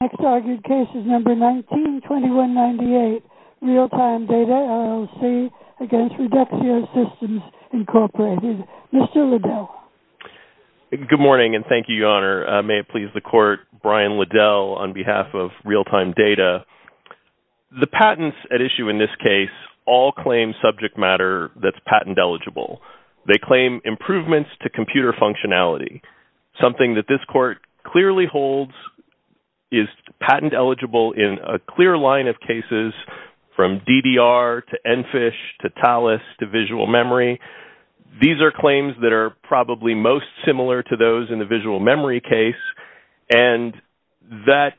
Next argued case is number 19-2198, Realtime Data LLC v. Reduxio Systems, Inc., Mr. Liddell. Good morning and thank you, Your Honor. May it please the Court, Brian Liddell on behalf of Realtime Data. The patents at issue in this case all claim subject matter that's patent eligible. They claim improvements to computer functionality, something that this is patent eligible in a clear line of cases from DDR to ENFISH to TALIS to visual memory. These are claims that are probably most similar to those in the visual memory case, and that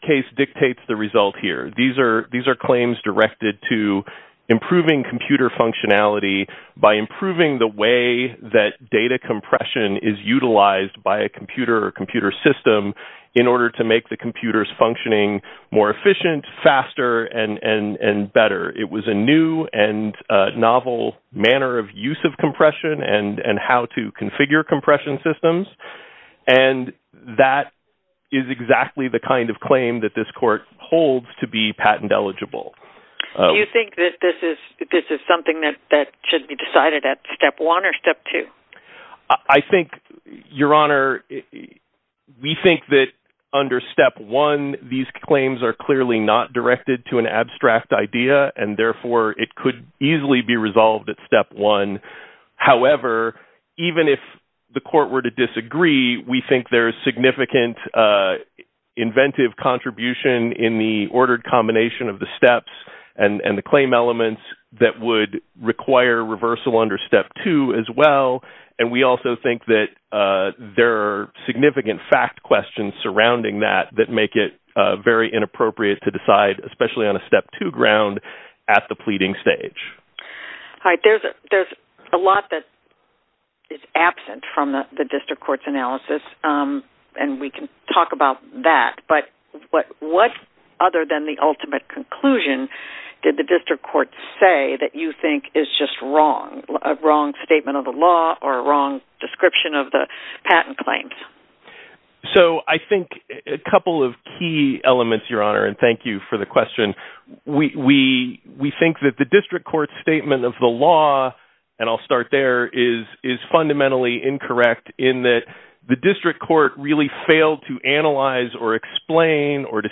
case dictates the result here. These are claims directed to improving computer functionality by improving the way that data compression is utilized by a computer or computer system in order to make the computers functioning more efficient, faster, and better. It was a new and novel manner of use of compression and how to configure compression systems, and that is exactly the kind of claim that this Court holds to be patent eligible. Do you think that this is something that should be decided at step one or step two? I think, Your Honor, we think that under step one, these claims are clearly not directed to an abstract idea, and therefore, it could easily be resolved at step one. However, even if the Court were to disagree, we think there is significant inventive contribution in the ordered combination of the steps and the claim elements that would require reversal under step two as well, and we also think that there are significant fact questions surrounding that that make it very inappropriate to decide, especially on a step two ground, at the pleading stage. All right. There's a lot that is absent from the District Court's analysis, and we can talk about that, but what, other than the ultimate conclusion, did the District Court say that you think is just wrong, a wrong statement of the law or a wrong description of the patent claims? So, I think a couple of key elements, Your Honor, and thank you for the question. We think that the District Court's statement of the law, and I'll start there, is fundamentally incorrect in that the District Court really failed to analyze or explain or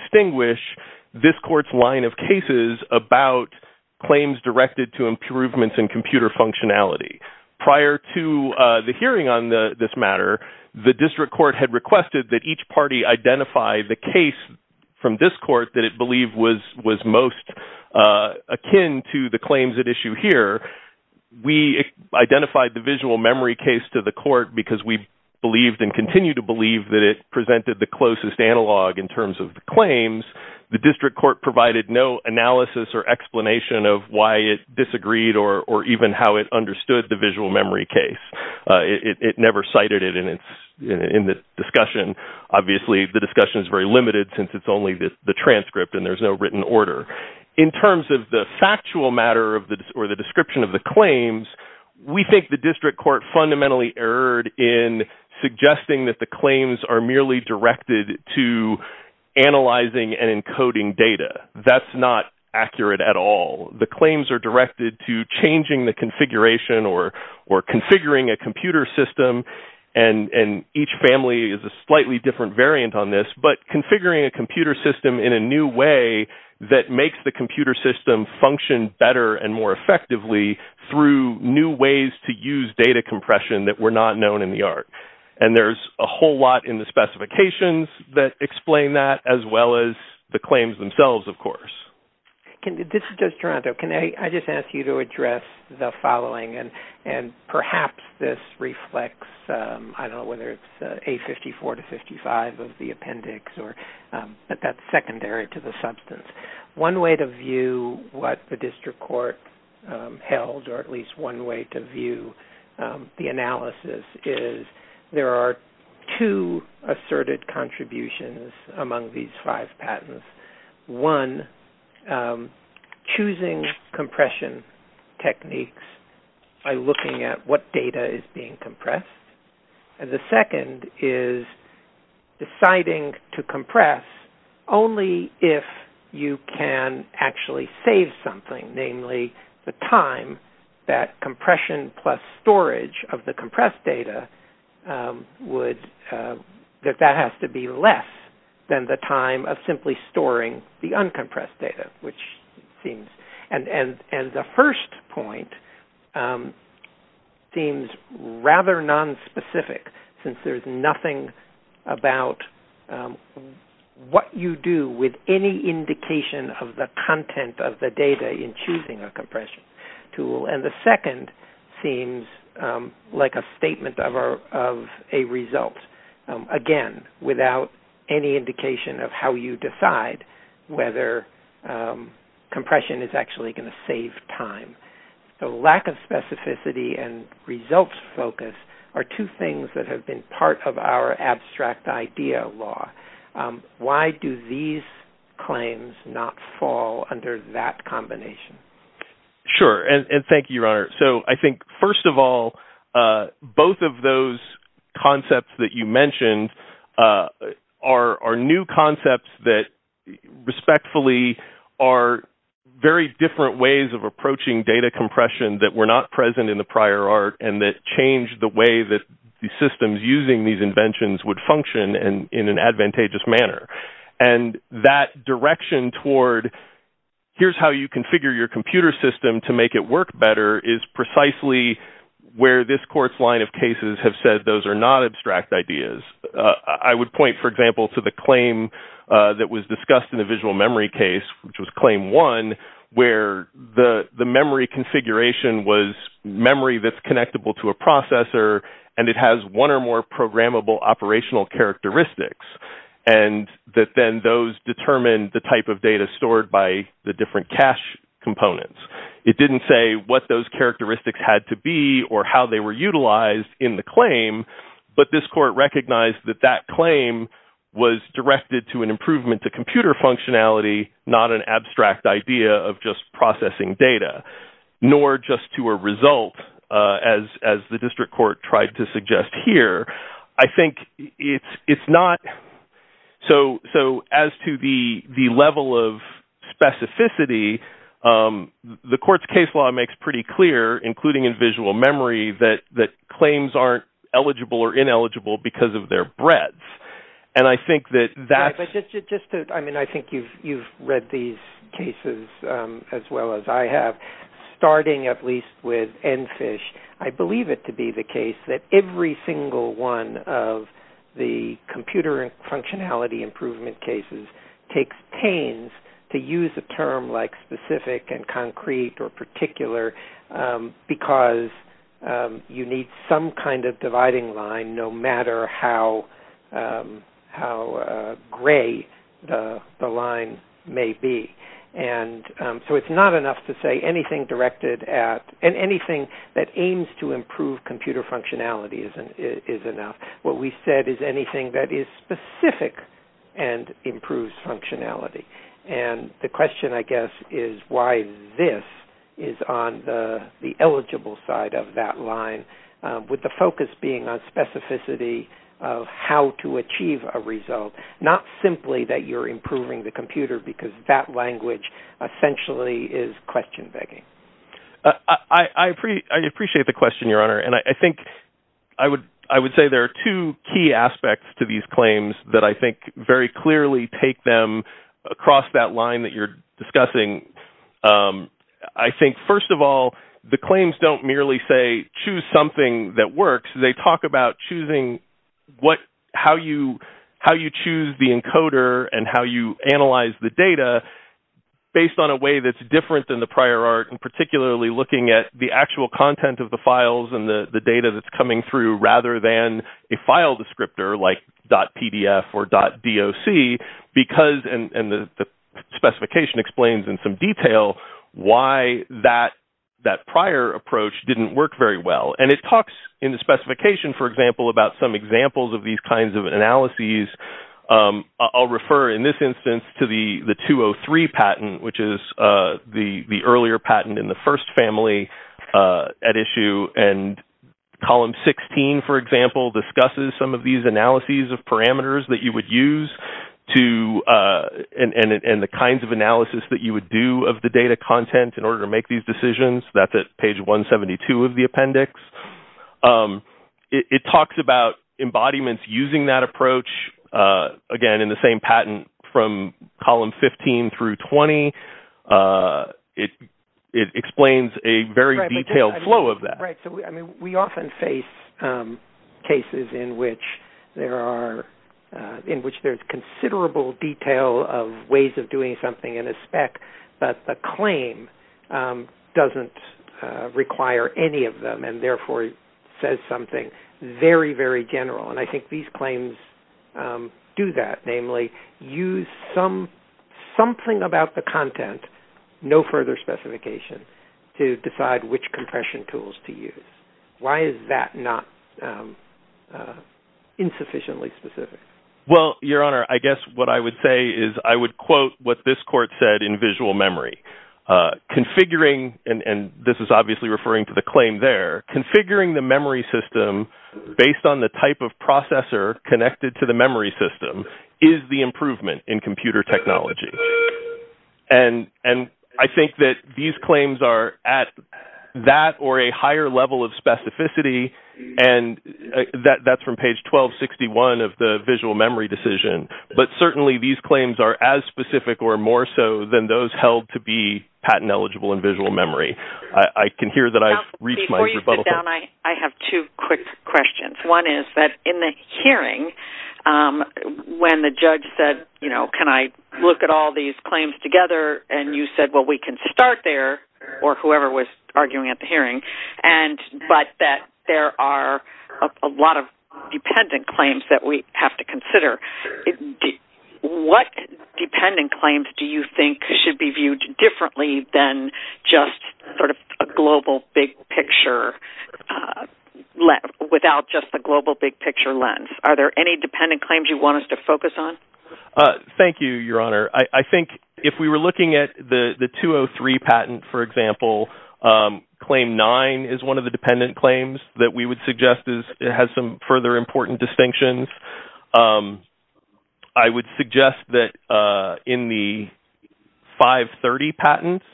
claims directed to improvements in computer functionality. Prior to the hearing on this matter, the District Court had requested that each party identify the case from this Court that it believed was most akin to the claims at issue here. We identified the visual memory case to the Court because we believed and continue to believe that it presented the closest analog in terms of the of why it disagreed or even how it understood the visual memory case. It never cited it in the discussion. Obviously, the discussion is very limited since it's only the transcript and there's no written order. In terms of the factual matter or the description of the claims, we think the District Court fundamentally erred in suggesting that the claims are merely directed to not accurate at all. The claims are directed to changing the configuration or configuring a computer system, and each family is a slightly different variant on this, but configuring a computer system in a new way that makes the computer system function better and more effectively through new ways to use data compression that were not known in the art. And there's a whole lot in the specifications that explain that, as well as the claims themselves, of course. This is just Toronto. Can I just ask you to address the following, and perhaps this reflects, I don't know whether it's A54 to 55 of the appendix, but that's secondary to the substance. One way to view what the District Court held, or at least one way to view the analysis is there are two asserted contributions among these five patents. One, choosing compression techniques by looking at what data is being compressed. And the second is deciding to compress only if you can actually save something, namely the time that compression plus storage of data. That has to be less than the time of simply storing the uncompressed data. And the first point seems rather nonspecific, since there's nothing about what you do with any indication of the content of the data in choosing a compression tool. And the second seems like a statement of a result, again, without any indication of how you decide whether compression is actually going to save time. The lack of specificity and results focus are two things that have been part of our abstract idea law. Why do these claims not fall under that combination? Sure. And thank you, Your Honor. So I think, first of all, both of those concepts that you mentioned are new concepts that respectfully are very different ways of approaching data compression that were not present in the prior art and that changed the way that the systems using these inventions would in an advantageous manner. And that direction toward here's how you configure your computer system to make it work better is precisely where this court's line of cases have said those are not abstract ideas. I would point, for example, to the claim that was discussed in the visual memory case, which was claim one, where the memory configuration was memory that's connectable to a characteristics. And that then those determined the type of data stored by the different cache components. It didn't say what those characteristics had to be or how they were utilized in the claim. But this court recognized that that claim was directed to an improvement to computer functionality, not an abstract idea of just processing data, nor just to a result, as the district court tried to suggest here. I think it's not... So as to the level of specificity, the court's case law makes pretty clear, including in visual memory, that claims aren't eligible or ineligible because of their breadth. And I think that that's... I think you've read these cases as well as I have. Starting at least with EnFISH, I believe it to be the case that every single one of the computer and functionality improvement cases takes pains to use a term like specific and concrete or particular because you need some kind of dividing line no matter how gray the line may be. And so it's not enough to say anything directed at... And anything that aims to improve computer functionality is enough. What we said is anything that is specific and improves functionality. And the question, I guess, is why this is on the eligible side of that line with the focus being on specificity of how to achieve a result, not simply that you're improving the computer because that language essentially is question-begging. I appreciate the question, Your Honor. And I think I would say there are two key aspects to these claims that I think very clearly take them across that line that you're discussing. I think, first of all, the claims don't merely say choose something that works. They talk about choosing how you choose the encoder and how you analyze the data based on a way that's different than the prior art and particularly looking at the actual content of the files and the data that's coming through rather than a file descriptor like .pdf or .doc because... And the specification explains in some detail why that prior approach didn't work very well. And it talks in the specification, for example, about some examples of these kinds of analyses. I'll refer in this instance to the 203 patent, which is the earlier patent in the first family at issue. And column 16, for example, discusses some of these analyses of parameters that you would use and the kinds of analysis that you would do of the data content in order to make these decisions. That's at page 172 of the appendix. It talks about embodiments using that approach, again, in the same patent from column 15 through 20. It explains a very in which there's considerable detail of ways of doing something in a spec, but the claim doesn't require any of them and therefore says something very, very general. And I think these claims do that, namely use something about the content, no further specification, to decide which compression tools to use. Why is that not insufficiently specific? Well, your honor, I guess what I would say is I would quote what this court said in visual memory. Configuring, and this is obviously referring to the claim there, configuring the memory system based on the type of processor connected to the memory system is the improvement in computer technology. And I think that these claims are at that or a higher level of specificity, and that's from page 1261 of the visual memory decision. But certainly these claims are as specific or more so than those held to be patent eligible in visual memory. I can hear that I've reached my rebuttal point. Before you sit down, I have two quick questions. One is that in the judge said, you know, can I look at all these claims together? And you said, well, we can start there or whoever was arguing at the hearing, but that there are a lot of dependent claims that we have to consider. What dependent claims do you think should be viewed differently than just sort of a global big picture without just the global big picture lens? Are there any dependent claims you want us to focus on? Thank you, Your Honor. I think if we were looking at the 203 patent, for example, claim nine is one of the dependent claims that we would suggest has some further important distinctions. I would suggest that in the 530 patents,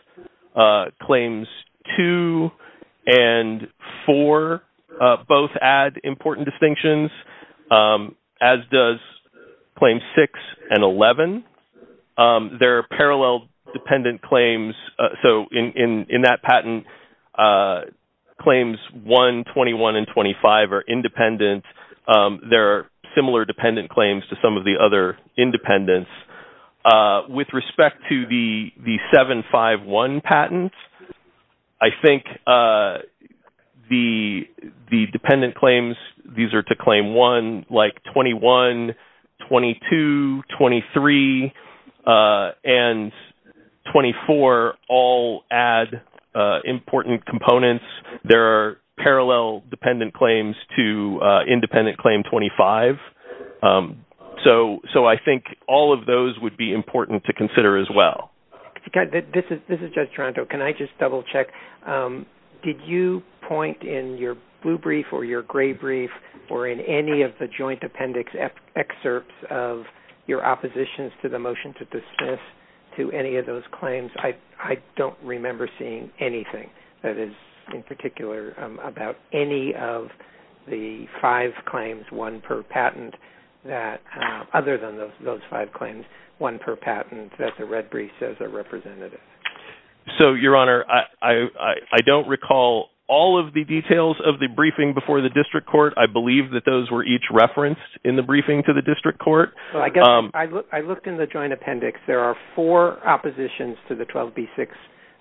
claims two and four both add important distinctions, as does claims six and 11. There are parallel dependent claims. So in that patent, claims one, 21, and 25 are independent. There are similar dependent claims to some of the other independents. With respect to the 751 patent, I think the dependent claims, these are to claim one, like 21, 22, 23, and 24 all add important components. There are parallel dependent claims to independent claim 25. So I think all of those would be important to consider as well. This is Judge Toronto. Can I just double check? Did you point in your blue brief or your gray brief or in any of the joint appendix excerpts of your oppositions to the motion to dismiss any of those claims? I don't remember seeing anything that is in particular about any of the five claims, one per patent, that other than those five claims, one per patent, that the red brief says are representative. So, Your Honor, I don't recall all of the details of the briefing before the district court. I believe that those were each referenced in the briefing to the four oppositions to the 12B6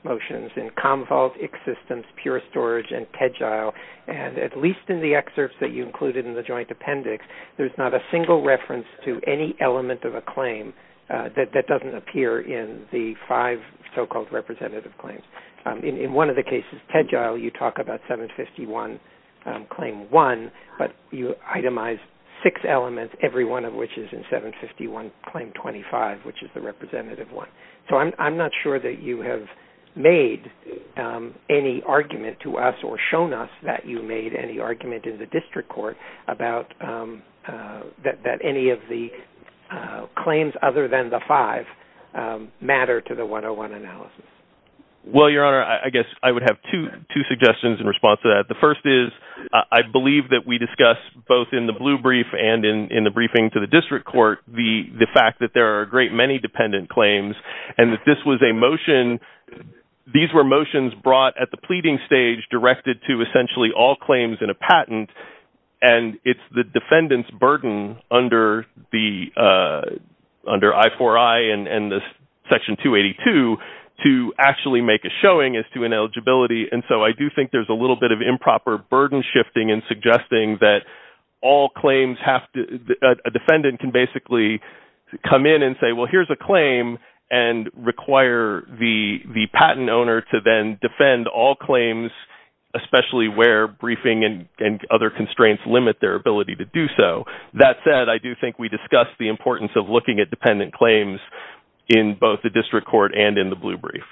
motions in Commvault, ICS systems, Pure Storage, and Tegil. And at least in the excerpts that you included in the joint appendix, there's not a single reference to any element of a claim that doesn't appear in the five so-called representative claims. In one of the cases, Tegil, you talk about 751 claim one, but you itemized six elements, every one of which is in 751 claim 25, which is the representative one. So, I'm not sure that you have made any argument to us or shown us that you made any argument in the district court about that any of the claims other than the five matter to the 101 analysis. Well, Your Honor, I guess I would have two suggestions in response to that. The first is, I believe that we discussed both in the blue brief and in the briefing to the district court, the fact that there are a great many dependent claims, and that this was a motion. These were motions brought at the pleading stage directed to essentially all claims in a patent, and it's the defendant's burden under I4I and Section 282 to actually make a showing as to ineligibility. And so, I do think there's a little bit of improper burden shifting in suggesting that all claims have to, a defendant can basically come in and say, well, here's a claim and require the patent owner to then defend all claims, especially where briefing and other constraints limit their ability to do so. That said, I do think we discussed the importance of looking at dependent claims in both the district court and in the blue brief.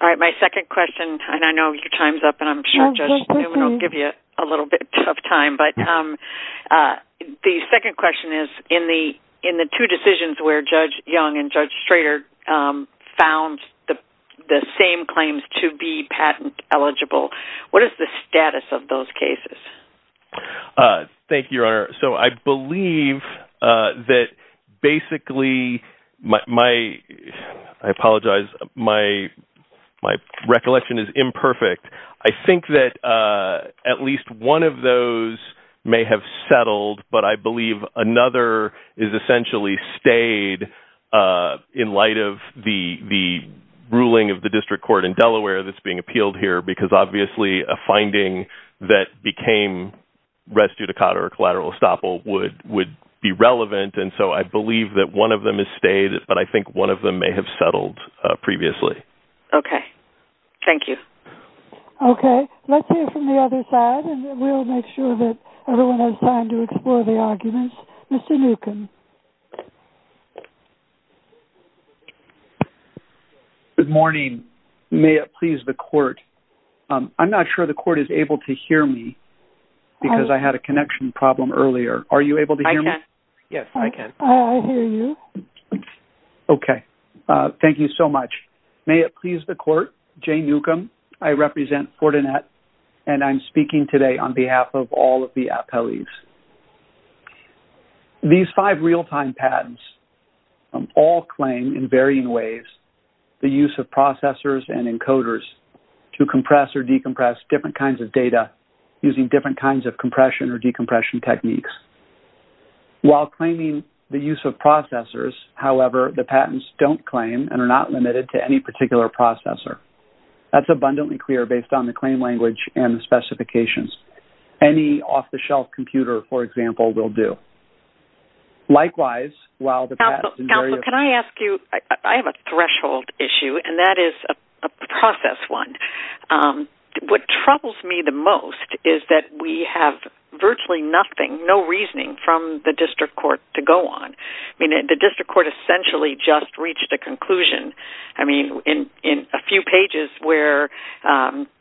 All right. My second question, and I know your time's up, and I'm sure Judge Newman will give you a little bit of time, but the second question is, in the two decisions where Judge Young and Judge Schrader found the same claims to be patent eligible, what is the status of those cases? Thank you, Your Honor. So, I believe that basically my, I apologize, my recollection is imperfect. I think that at least one of those may have settled, but I believe another is essentially stayed in light of the ruling of the district court in Delaware that's being rescued a cot or collateral estoppel would be relevant, and so I believe that one of them is stayed, but I think one of them may have settled previously. Okay. Thank you. Okay. Let's hear from the other side, and we'll make sure that everyone has time to explore the arguments. Mr. Newcomb. Good morning. May it please the court. I'm not sure the court is because I had a connection problem earlier. Are you able to hear me? I can. Yes, I can. Oh, I hear you. Okay. Thank you so much. May it please the court. Jane Newcomb. I represent Fortinet, and I'm speaking today on behalf of all of the appellees. These five real-time patents all claim in varying ways the use of processors and encoders to compress or decompress different kinds of data using different kinds of compression or decompression techniques. While claiming the use of processors, however, the patents don't claim and are not limited to any particular processor. That's abundantly clear based on the claim language and the specifications. Any off-the-shelf computer, for example, will do. Likewise, while the patents in various... Counsel, can I ask you? I have a threshold issue, and that is a process one. What troubles me the most is that we have virtually nothing, no reasoning from the district court to go on. I mean, the district court essentially just reached a conclusion. I mean, in a few pages where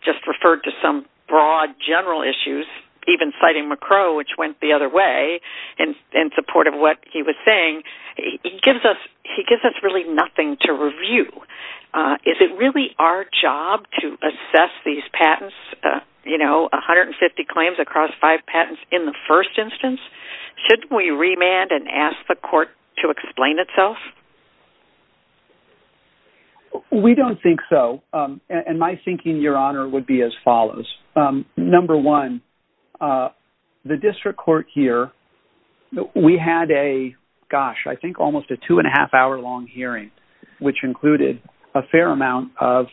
just referred to some broad general issues, even citing McCrow, which went the other way in support of what he was saying, he gives us really nothing to review. Is it really our job to assess these patents, you know, 150 claims across five patents in the first instance? Shouldn't we remand and ask the court to explain itself? We don't think so, and my thinking, Your Honor, would be as follows. Number one, the district court here, we had a, gosh, I think almost a two-and-a-half-hour-long hearing, which included a fair amount of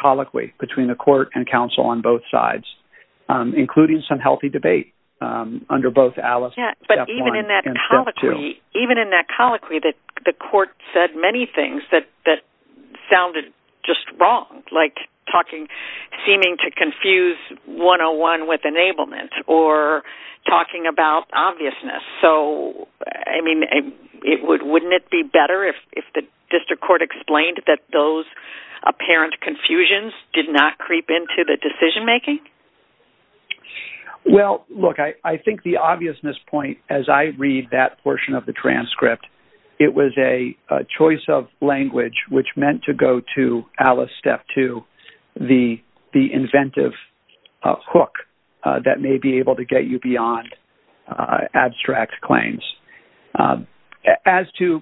colloquy between the court and counsel on both sides, including some healthy debate under both Alice and Step 1 and Step 2. Even in that colloquy, the court said many things that sounded just wrong, like talking, seeming to confuse 101 with enablement or talking about obviousness. So, I mean, wouldn't it be better if the district court explained that those apparent confusions did not creep into the decision-making? Well, look, I think the obviousness point, as I read that portion of the transcript, it was a choice of language which meant to go to Alice, Step 2, the inventive hook that may be able to get you beyond abstract claims. As to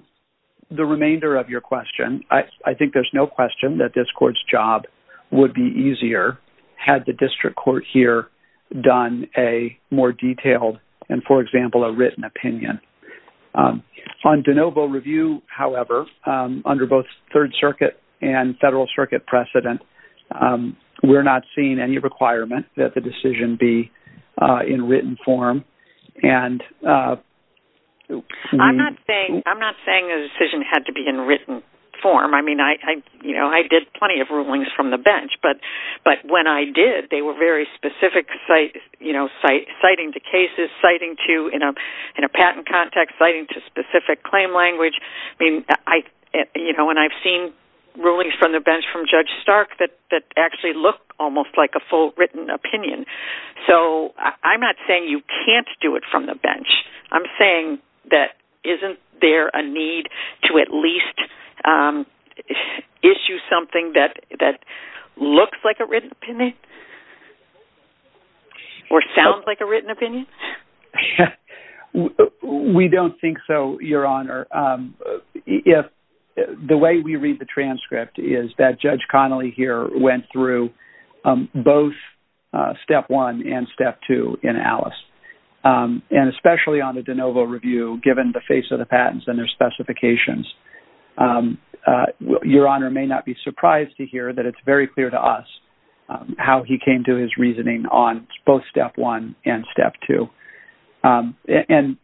the remainder of your question, I think there's no question that this court's job would be easier had the district court here done a more detailed and, for example, a written opinion. On de novo review, however, under both Third Circuit and Federal Circuit precedent, we're not seeing any requirement that the decision be in written form. And I'm not saying the decision had to be in written form. I mean, I did plenty of rulings from the bench, but when I did, they were very specific, citing to cases, citing to, in a patent context, citing to specific claim language. I mean, and I've seen rulings from the bench from Judge Stark that actually look almost like a full written opinion. So, I'm not saying you can't do it from the bench. I'm saying that isn't there a need to at least issue something that looks like a written opinion or sounds like a written opinion? We don't think so, Your Honor. The way we read the transcript is that Judge Connolly here went through both Step 1 and Step 2 in Alice. And especially on the de novo review, given the face of the patents and their specifications, Your Honor may not be surprised to hear that it's very clear to us how he came to his reasoning on both Step 1 and Step 2. And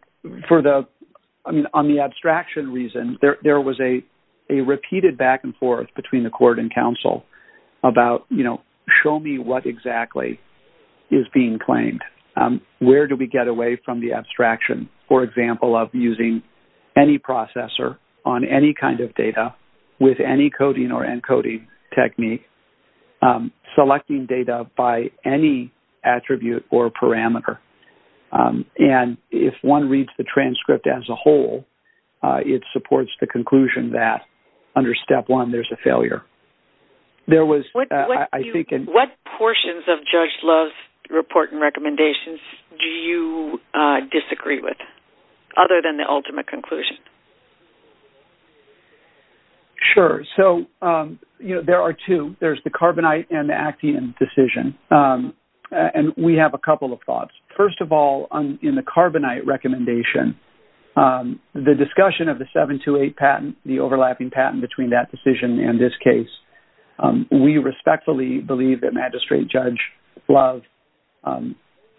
for the, I mean, on the abstraction reason, there was a repeated back and forth between the court and counsel about, you know, show me what exactly is being claimed. Where do we get away from the abstraction, for example, of using any processor on any kind of data with any coding or encoding technique, selecting data by any attribute or parameter. And if one reads the transcript as a whole, it supports the conclusion that under Step 1, there's a failure. There was, I think... What portions of Judge Love's report and recommendations do you disagree with, other than the ultimate conclusion? Sure. So, you know, there are two. There's the Carbonite and the Action decision. And we have a couple of thoughts. First of all, in the Carbonite recommendation, the discussion of the 728 patent, the overlapping patent between that decision and this case, we respectfully believe that Magistrate Judge Love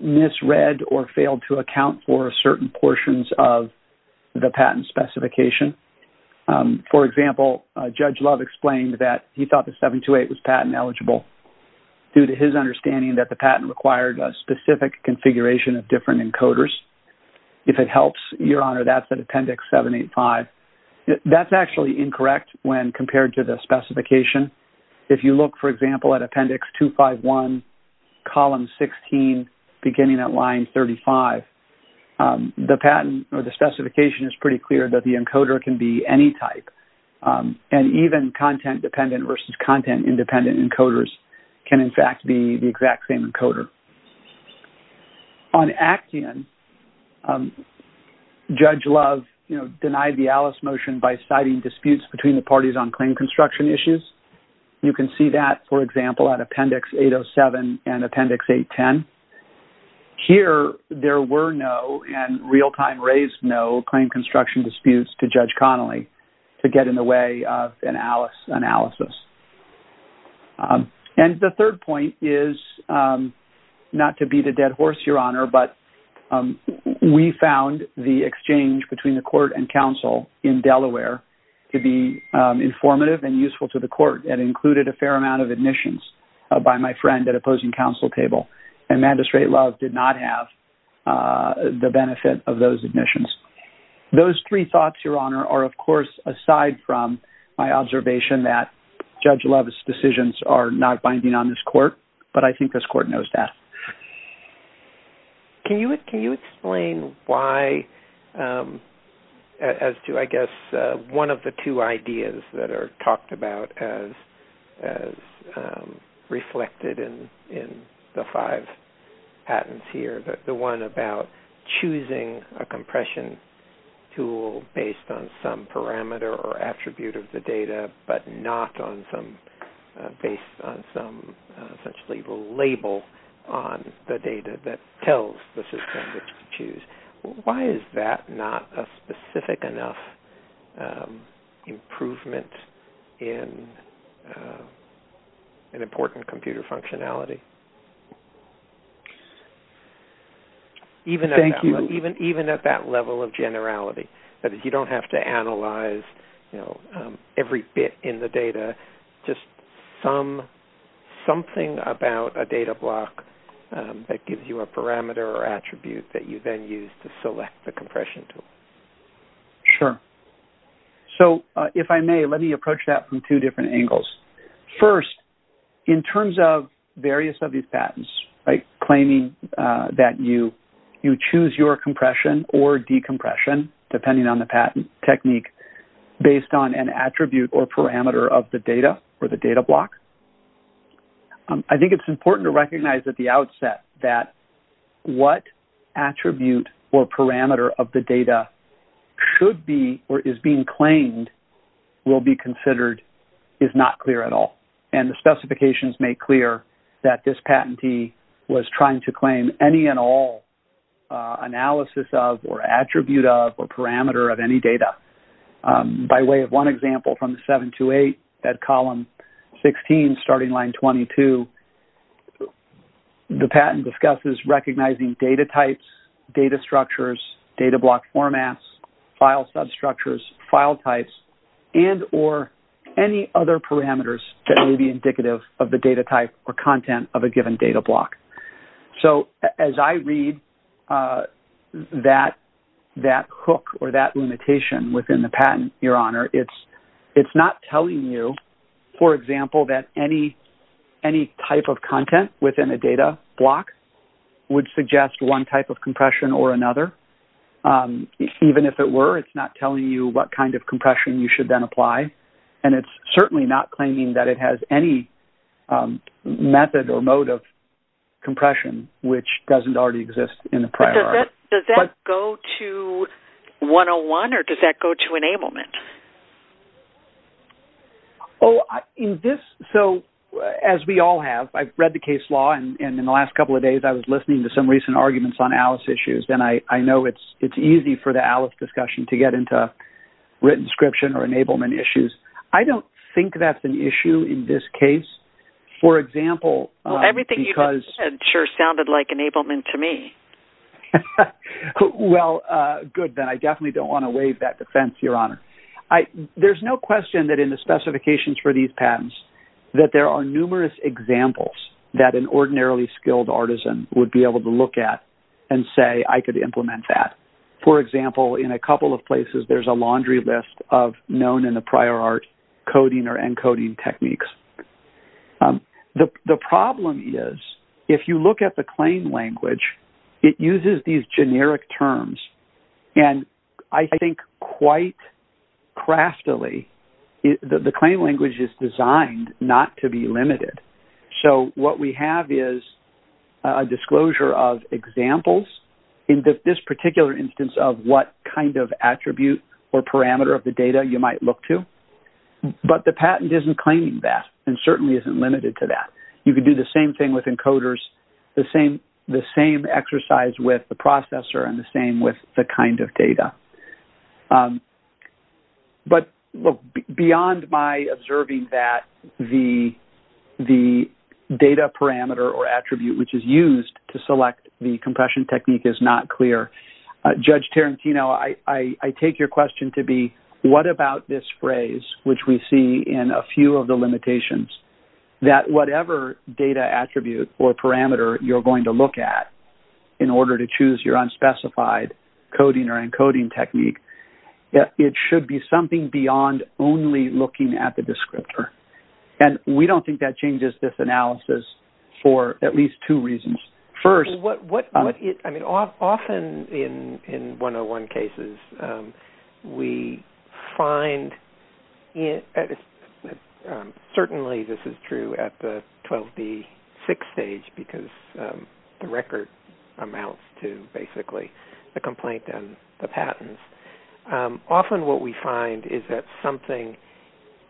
misread or failed to account for certain portions of the patent specification. For example, Judge Love explained that he thought the 728 was patent eligible due to his understanding that the patent required a specific configuration of different encoders. If it helps, Your Honor, that's at Appendix 785. That's actually incorrect when compared to the specification. If you look, for example, at Appendix 251, Column 16, beginning at Line 35, the patent or the specification is pretty clear that the encoder can be any type. And even content-dependent versus content-independent encoders can, in fact, be the exact same encoder. On Action, Judge Love denied the Alice motion by citing disputes between the parties on claim construction issues. You can see that, for example, at Appendix 807 and Appendix 810. Here, there were no and real-time raised no claim construction disputes to Judge Connolly to get in the way of an Alice analysis. And the third point is not to beat a dead horse, Your Honor, but we found the exchange between the court and counsel in Delaware to be informative and useful to the court and included a fair amount of admissions by my friend at opposing counsel table. And Magistrate Love did not have the benefit of those admissions. Those three thoughts, Your Honor, are, of course, aside from my observation that Judge Love's decisions are not binding on this court, but I think this court knows that. Can you explain why, as to, I guess, one of the two ideas that are talked about as reflected in the five patents here, the one about choosing a compression tool based on some parameter or attribute of the data but not based on some label on the data that tells the system to choose, why is that not a specific enough improvement in an important computer functionality? Thank you. Even at that level of generality, that you don't have to analyze every bit in the data, just something about a data block that gives you a parameter or attribute that you then use to select the compression tool. Sure. So, if I may, let me approach that from two different angles. First, in terms of various of these patents, claiming that you choose your compression or decompression, depending on the patent technique, based on an attribute or parameter of the data or the data block, I think it's important to recognize at the outset that what attribute or parameter of the data should be or is being claimed will be considered is not clear at all. And the specifications make clear that this patentee was trying to claim any and all analysis of or attribute of or parameter of any data. By way of one example from the 728, that column 16, starting line 22, the patent discusses recognizing data types, data structures, data block formats, file substructures, file types, and or any other parameters that may be indicative of the data type or content of a given data block. So, as I read that hook or that limitation within the patent, Your Honor, it's not telling you, for example, that any type of content within a data block would suggest one type of compression or another. Even if it were, it's not telling you what kind of compression you should then apply. And it's certainly not claiming that it has any method or mode of compression, which doesn't already exist in the prior. Does that go to 101, or does that go to enablement? Oh, in this, so as we all have, I've read the case law, and in the last couple of days, I was listening to some recent arguments on ALICE issues, and I know it's easy for the ALICE discussion to get into written description or enablement issues. I don't think that's an issue in this case. For example, everything you said sure sounded like enablement to me. Well, good, then I definitely don't want to waive that defense, Your Honor. There's no question that in the specifications for these patents, that there are numerous examples that an ordinarily skilled artisan would be able to look at and say, I could implement that. For example, in a couple of places, there's a laundry list of known in the prior art coding or encoding techniques. The problem is, if you look at the claim language, it uses these generic terms, and I think quite craftily, the claim language is designed not to be limited. So what we have is a disclosure of examples in this particular instance of what kind of attribute or parameter of the data you might look to. But the patent isn't claiming that and certainly isn't limited to that. You could do the same thing with encoders, the same exercise with the processor, and the same with the kind of data. But beyond my observing that the data parameter or attribute which is used to select the compression technique is not clear, Judge Tarantino, I take your question to be, what about this phrase, which we see in a few of the limitations, that whatever data attribute or parameter you're going to look at in order to choose your unspecified coding or encoding technique, it should be something beyond only looking at the descriptor. And we don't think that changes this analysis for at least two reasons. Often in 101 cases, we find, certainly this is true at the 12B6 stage, because the record amounts to basically the complaint and the patents. Often what we find is that something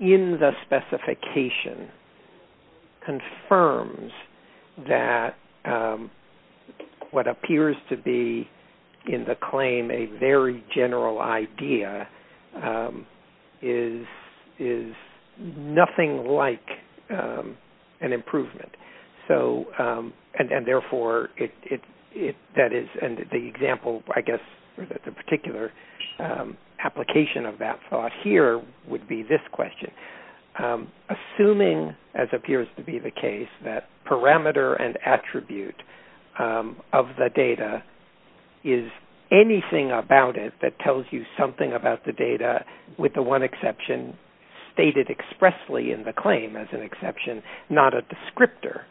in the specification confirms that what appears to be in the claim a very general idea is nothing like an improvement. And therefore, that is the example, I guess, or that the particular application of that thought here would be this question. Assuming, as appears to be the case, that parameter and attribute of the data is anything about it that tells you something about the data, with the one exception stated expressly in the claim as an exception, not a descriptor,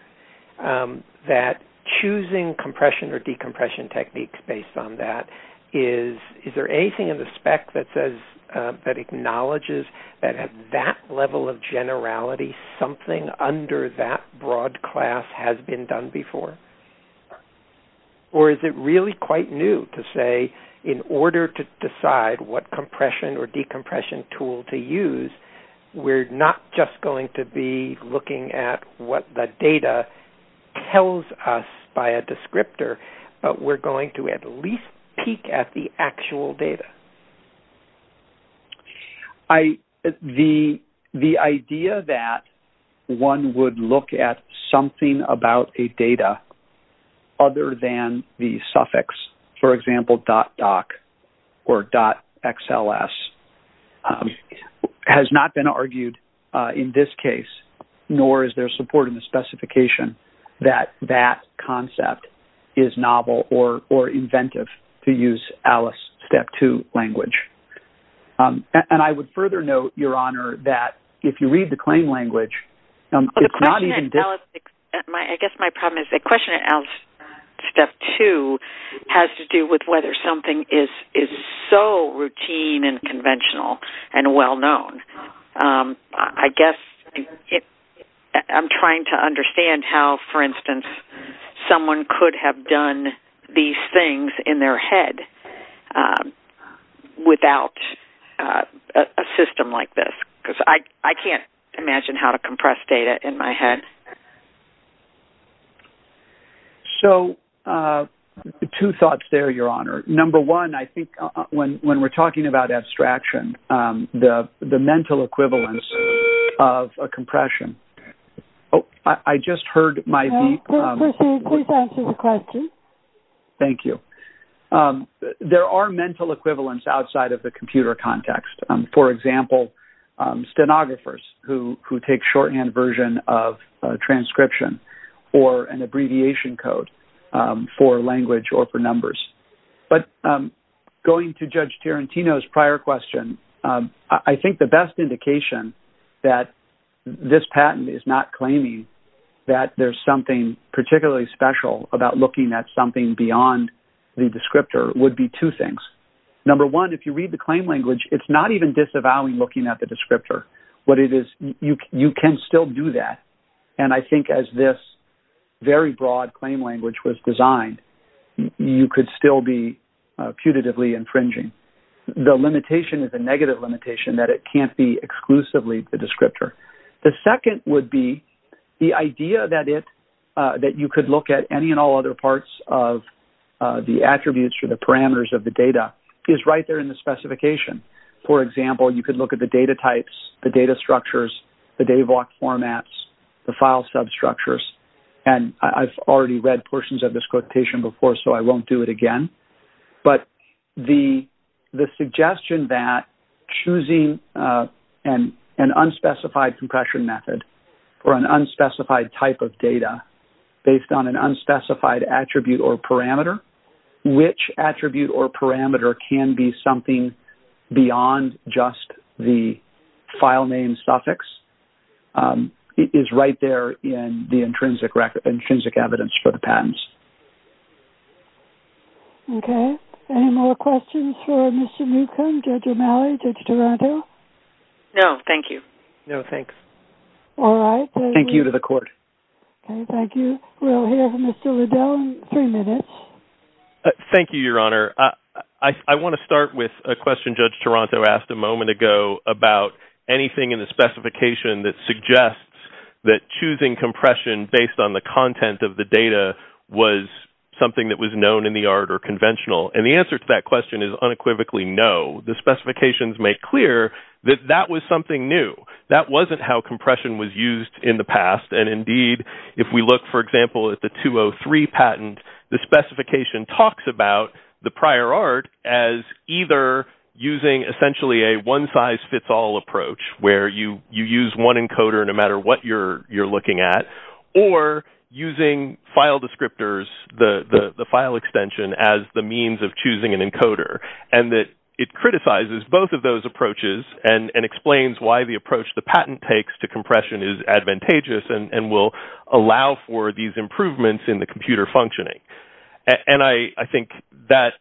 that choosing compression or decompression techniques based on that, is there anything in the spec that acknowledges that at that level of generality, something under that broad class has been done before? Or is it really quite new to say, in order to decide what compression or decompression tool to use, we're not just going to be looking at what the data tells us by a descriptor, but we're going to at least peek at the actual data? The idea that one would look at something about a data other than the suffix, for example, .doc or .xls has not been argued in this case, nor is there support in the specification that that concept is novel or inventive to use ALICE Step 2 language. And I would further note, Your Honor, that if you read the claim in ALICE Step 2 language, it's not even... I guess my problem is that question in ALICE Step 2 has to do with whether something is so routine and conventional and well known. I guess I'm trying to understand how, for instance, someone could have done these things in their head without a system like this, because I can't imagine how to compress data in my head. So two thoughts there, Your Honor. Number one, I think when we're talking about abstraction, the mental equivalence of a compression... Oh, I just heard my... Please proceed. Please answer the question. Thank you. There are mental equivalence outside of the computer context. For example, stenographers who take shorthand version of transcription or an abbreviation code for language or for numbers. But going to Judge Tarantino's prior question, I think the best indication that this patent is not claiming that there's something particularly special about looking at something beyond the descriptor would be two things. Number one, if you read the claim language, it's not even disavowing looking at the descriptor. You can still do that. And I think as this very broad claim language was designed, you could still be putatively infringing. The limitation is a negative limitation that it you could look at any and all other parts of the attributes or the parameters of the data is right there in the specification. For example, you could look at the data types, the data structures, the DAVOC formats, the file substructures. And I've already read portions of this quotation before, so I won't do it again. But the suggestion that choosing an unspecified compression method or an unspecified type of data based on an unspecified attribute or parameter, which attribute or parameter can be something beyond just the file name suffix, is right there in the intrinsic evidence for the patents. Okay. Any more questions for Mr. Newcomb, Judge O'Malley, Judge Taranto? No, thank you. No, thanks. All right. Thank you to the court. Thank you. We'll hear from Mr. Liddell in three minutes. Thank you, Your Honor. I want to start with a question Judge Taranto asked a moment ago about anything in the specification that suggests that choosing compression based on the content of the data was something that was known in the art or conventional. And the answer to that question is unequivocally no. The specifications make clear that that was something new. That wasn't how compression was used in the past. And indeed, if we look, for example, at the 203 patent, the specification talks about the prior art as either using essentially a one-size-fits-all approach where you use one encoder no matter what you're using, file descriptors, the file extension as the means of choosing an encoder, and that it criticizes both of those approaches and explains why the approach the patent takes to compression is advantageous and will allow for these improvements in the computer functioning. And I think that's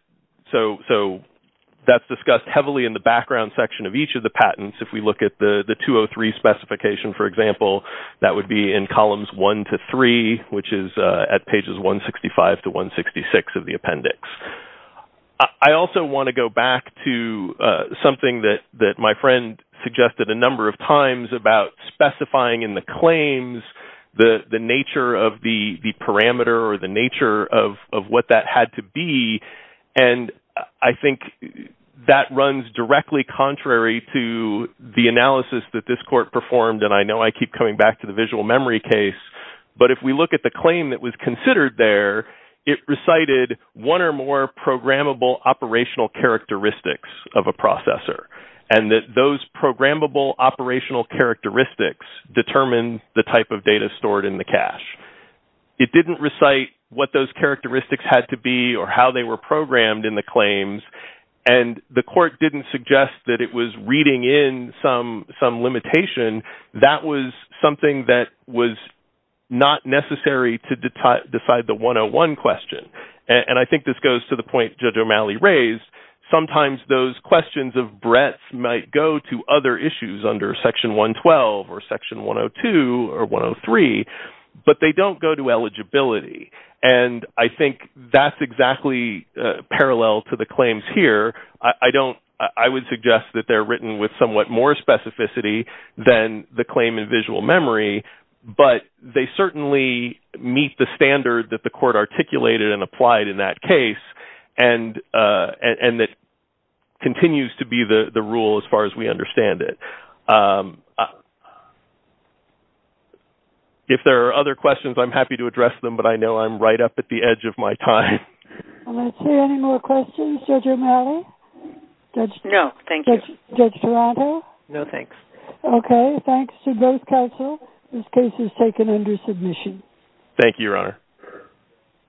discussed heavily in the background section of each of the patents. If we look at the 203 specification, for example, that would be in columns 1 to 3, which is at pages 165 to 166 of the appendix. I also want to go back to something that my friend suggested a number of times about specifying in the claims the nature of the parameter or the analysis that this court performed, and I know I keep coming back to the visual memory case, but if we look at the claim that was considered there, it recited one or more programmable operational characteristics of a processor, and that those programmable operational characteristics determine the type of data stored in the cache. It didn't recite what those characteristics had to be or how they were programmed in the claims, and the court didn't suggest that it was reading in some limitation. That was something that was not necessary to decide the 101 question, and I think this goes to the point Judge O'Malley raised. Sometimes those questions of breadth might go to other issues under section 112 or section 102 or 103, but they don't go to eligibility, and I think that's exactly parallel to the claims here. I would suggest that they're written with somewhat more specificity than the claim in visual memory, but they certainly meet the standard that the court articulated and applied in that case, and that continues to be the rule as far as we understand it. If there are other questions, I'm happy to address them, but I know I'm right up at the edge. No, thank you. Judge Toronto? No, thanks. Okay, thanks to both counsel. This case is taken under submission. Thank you, Your Honor.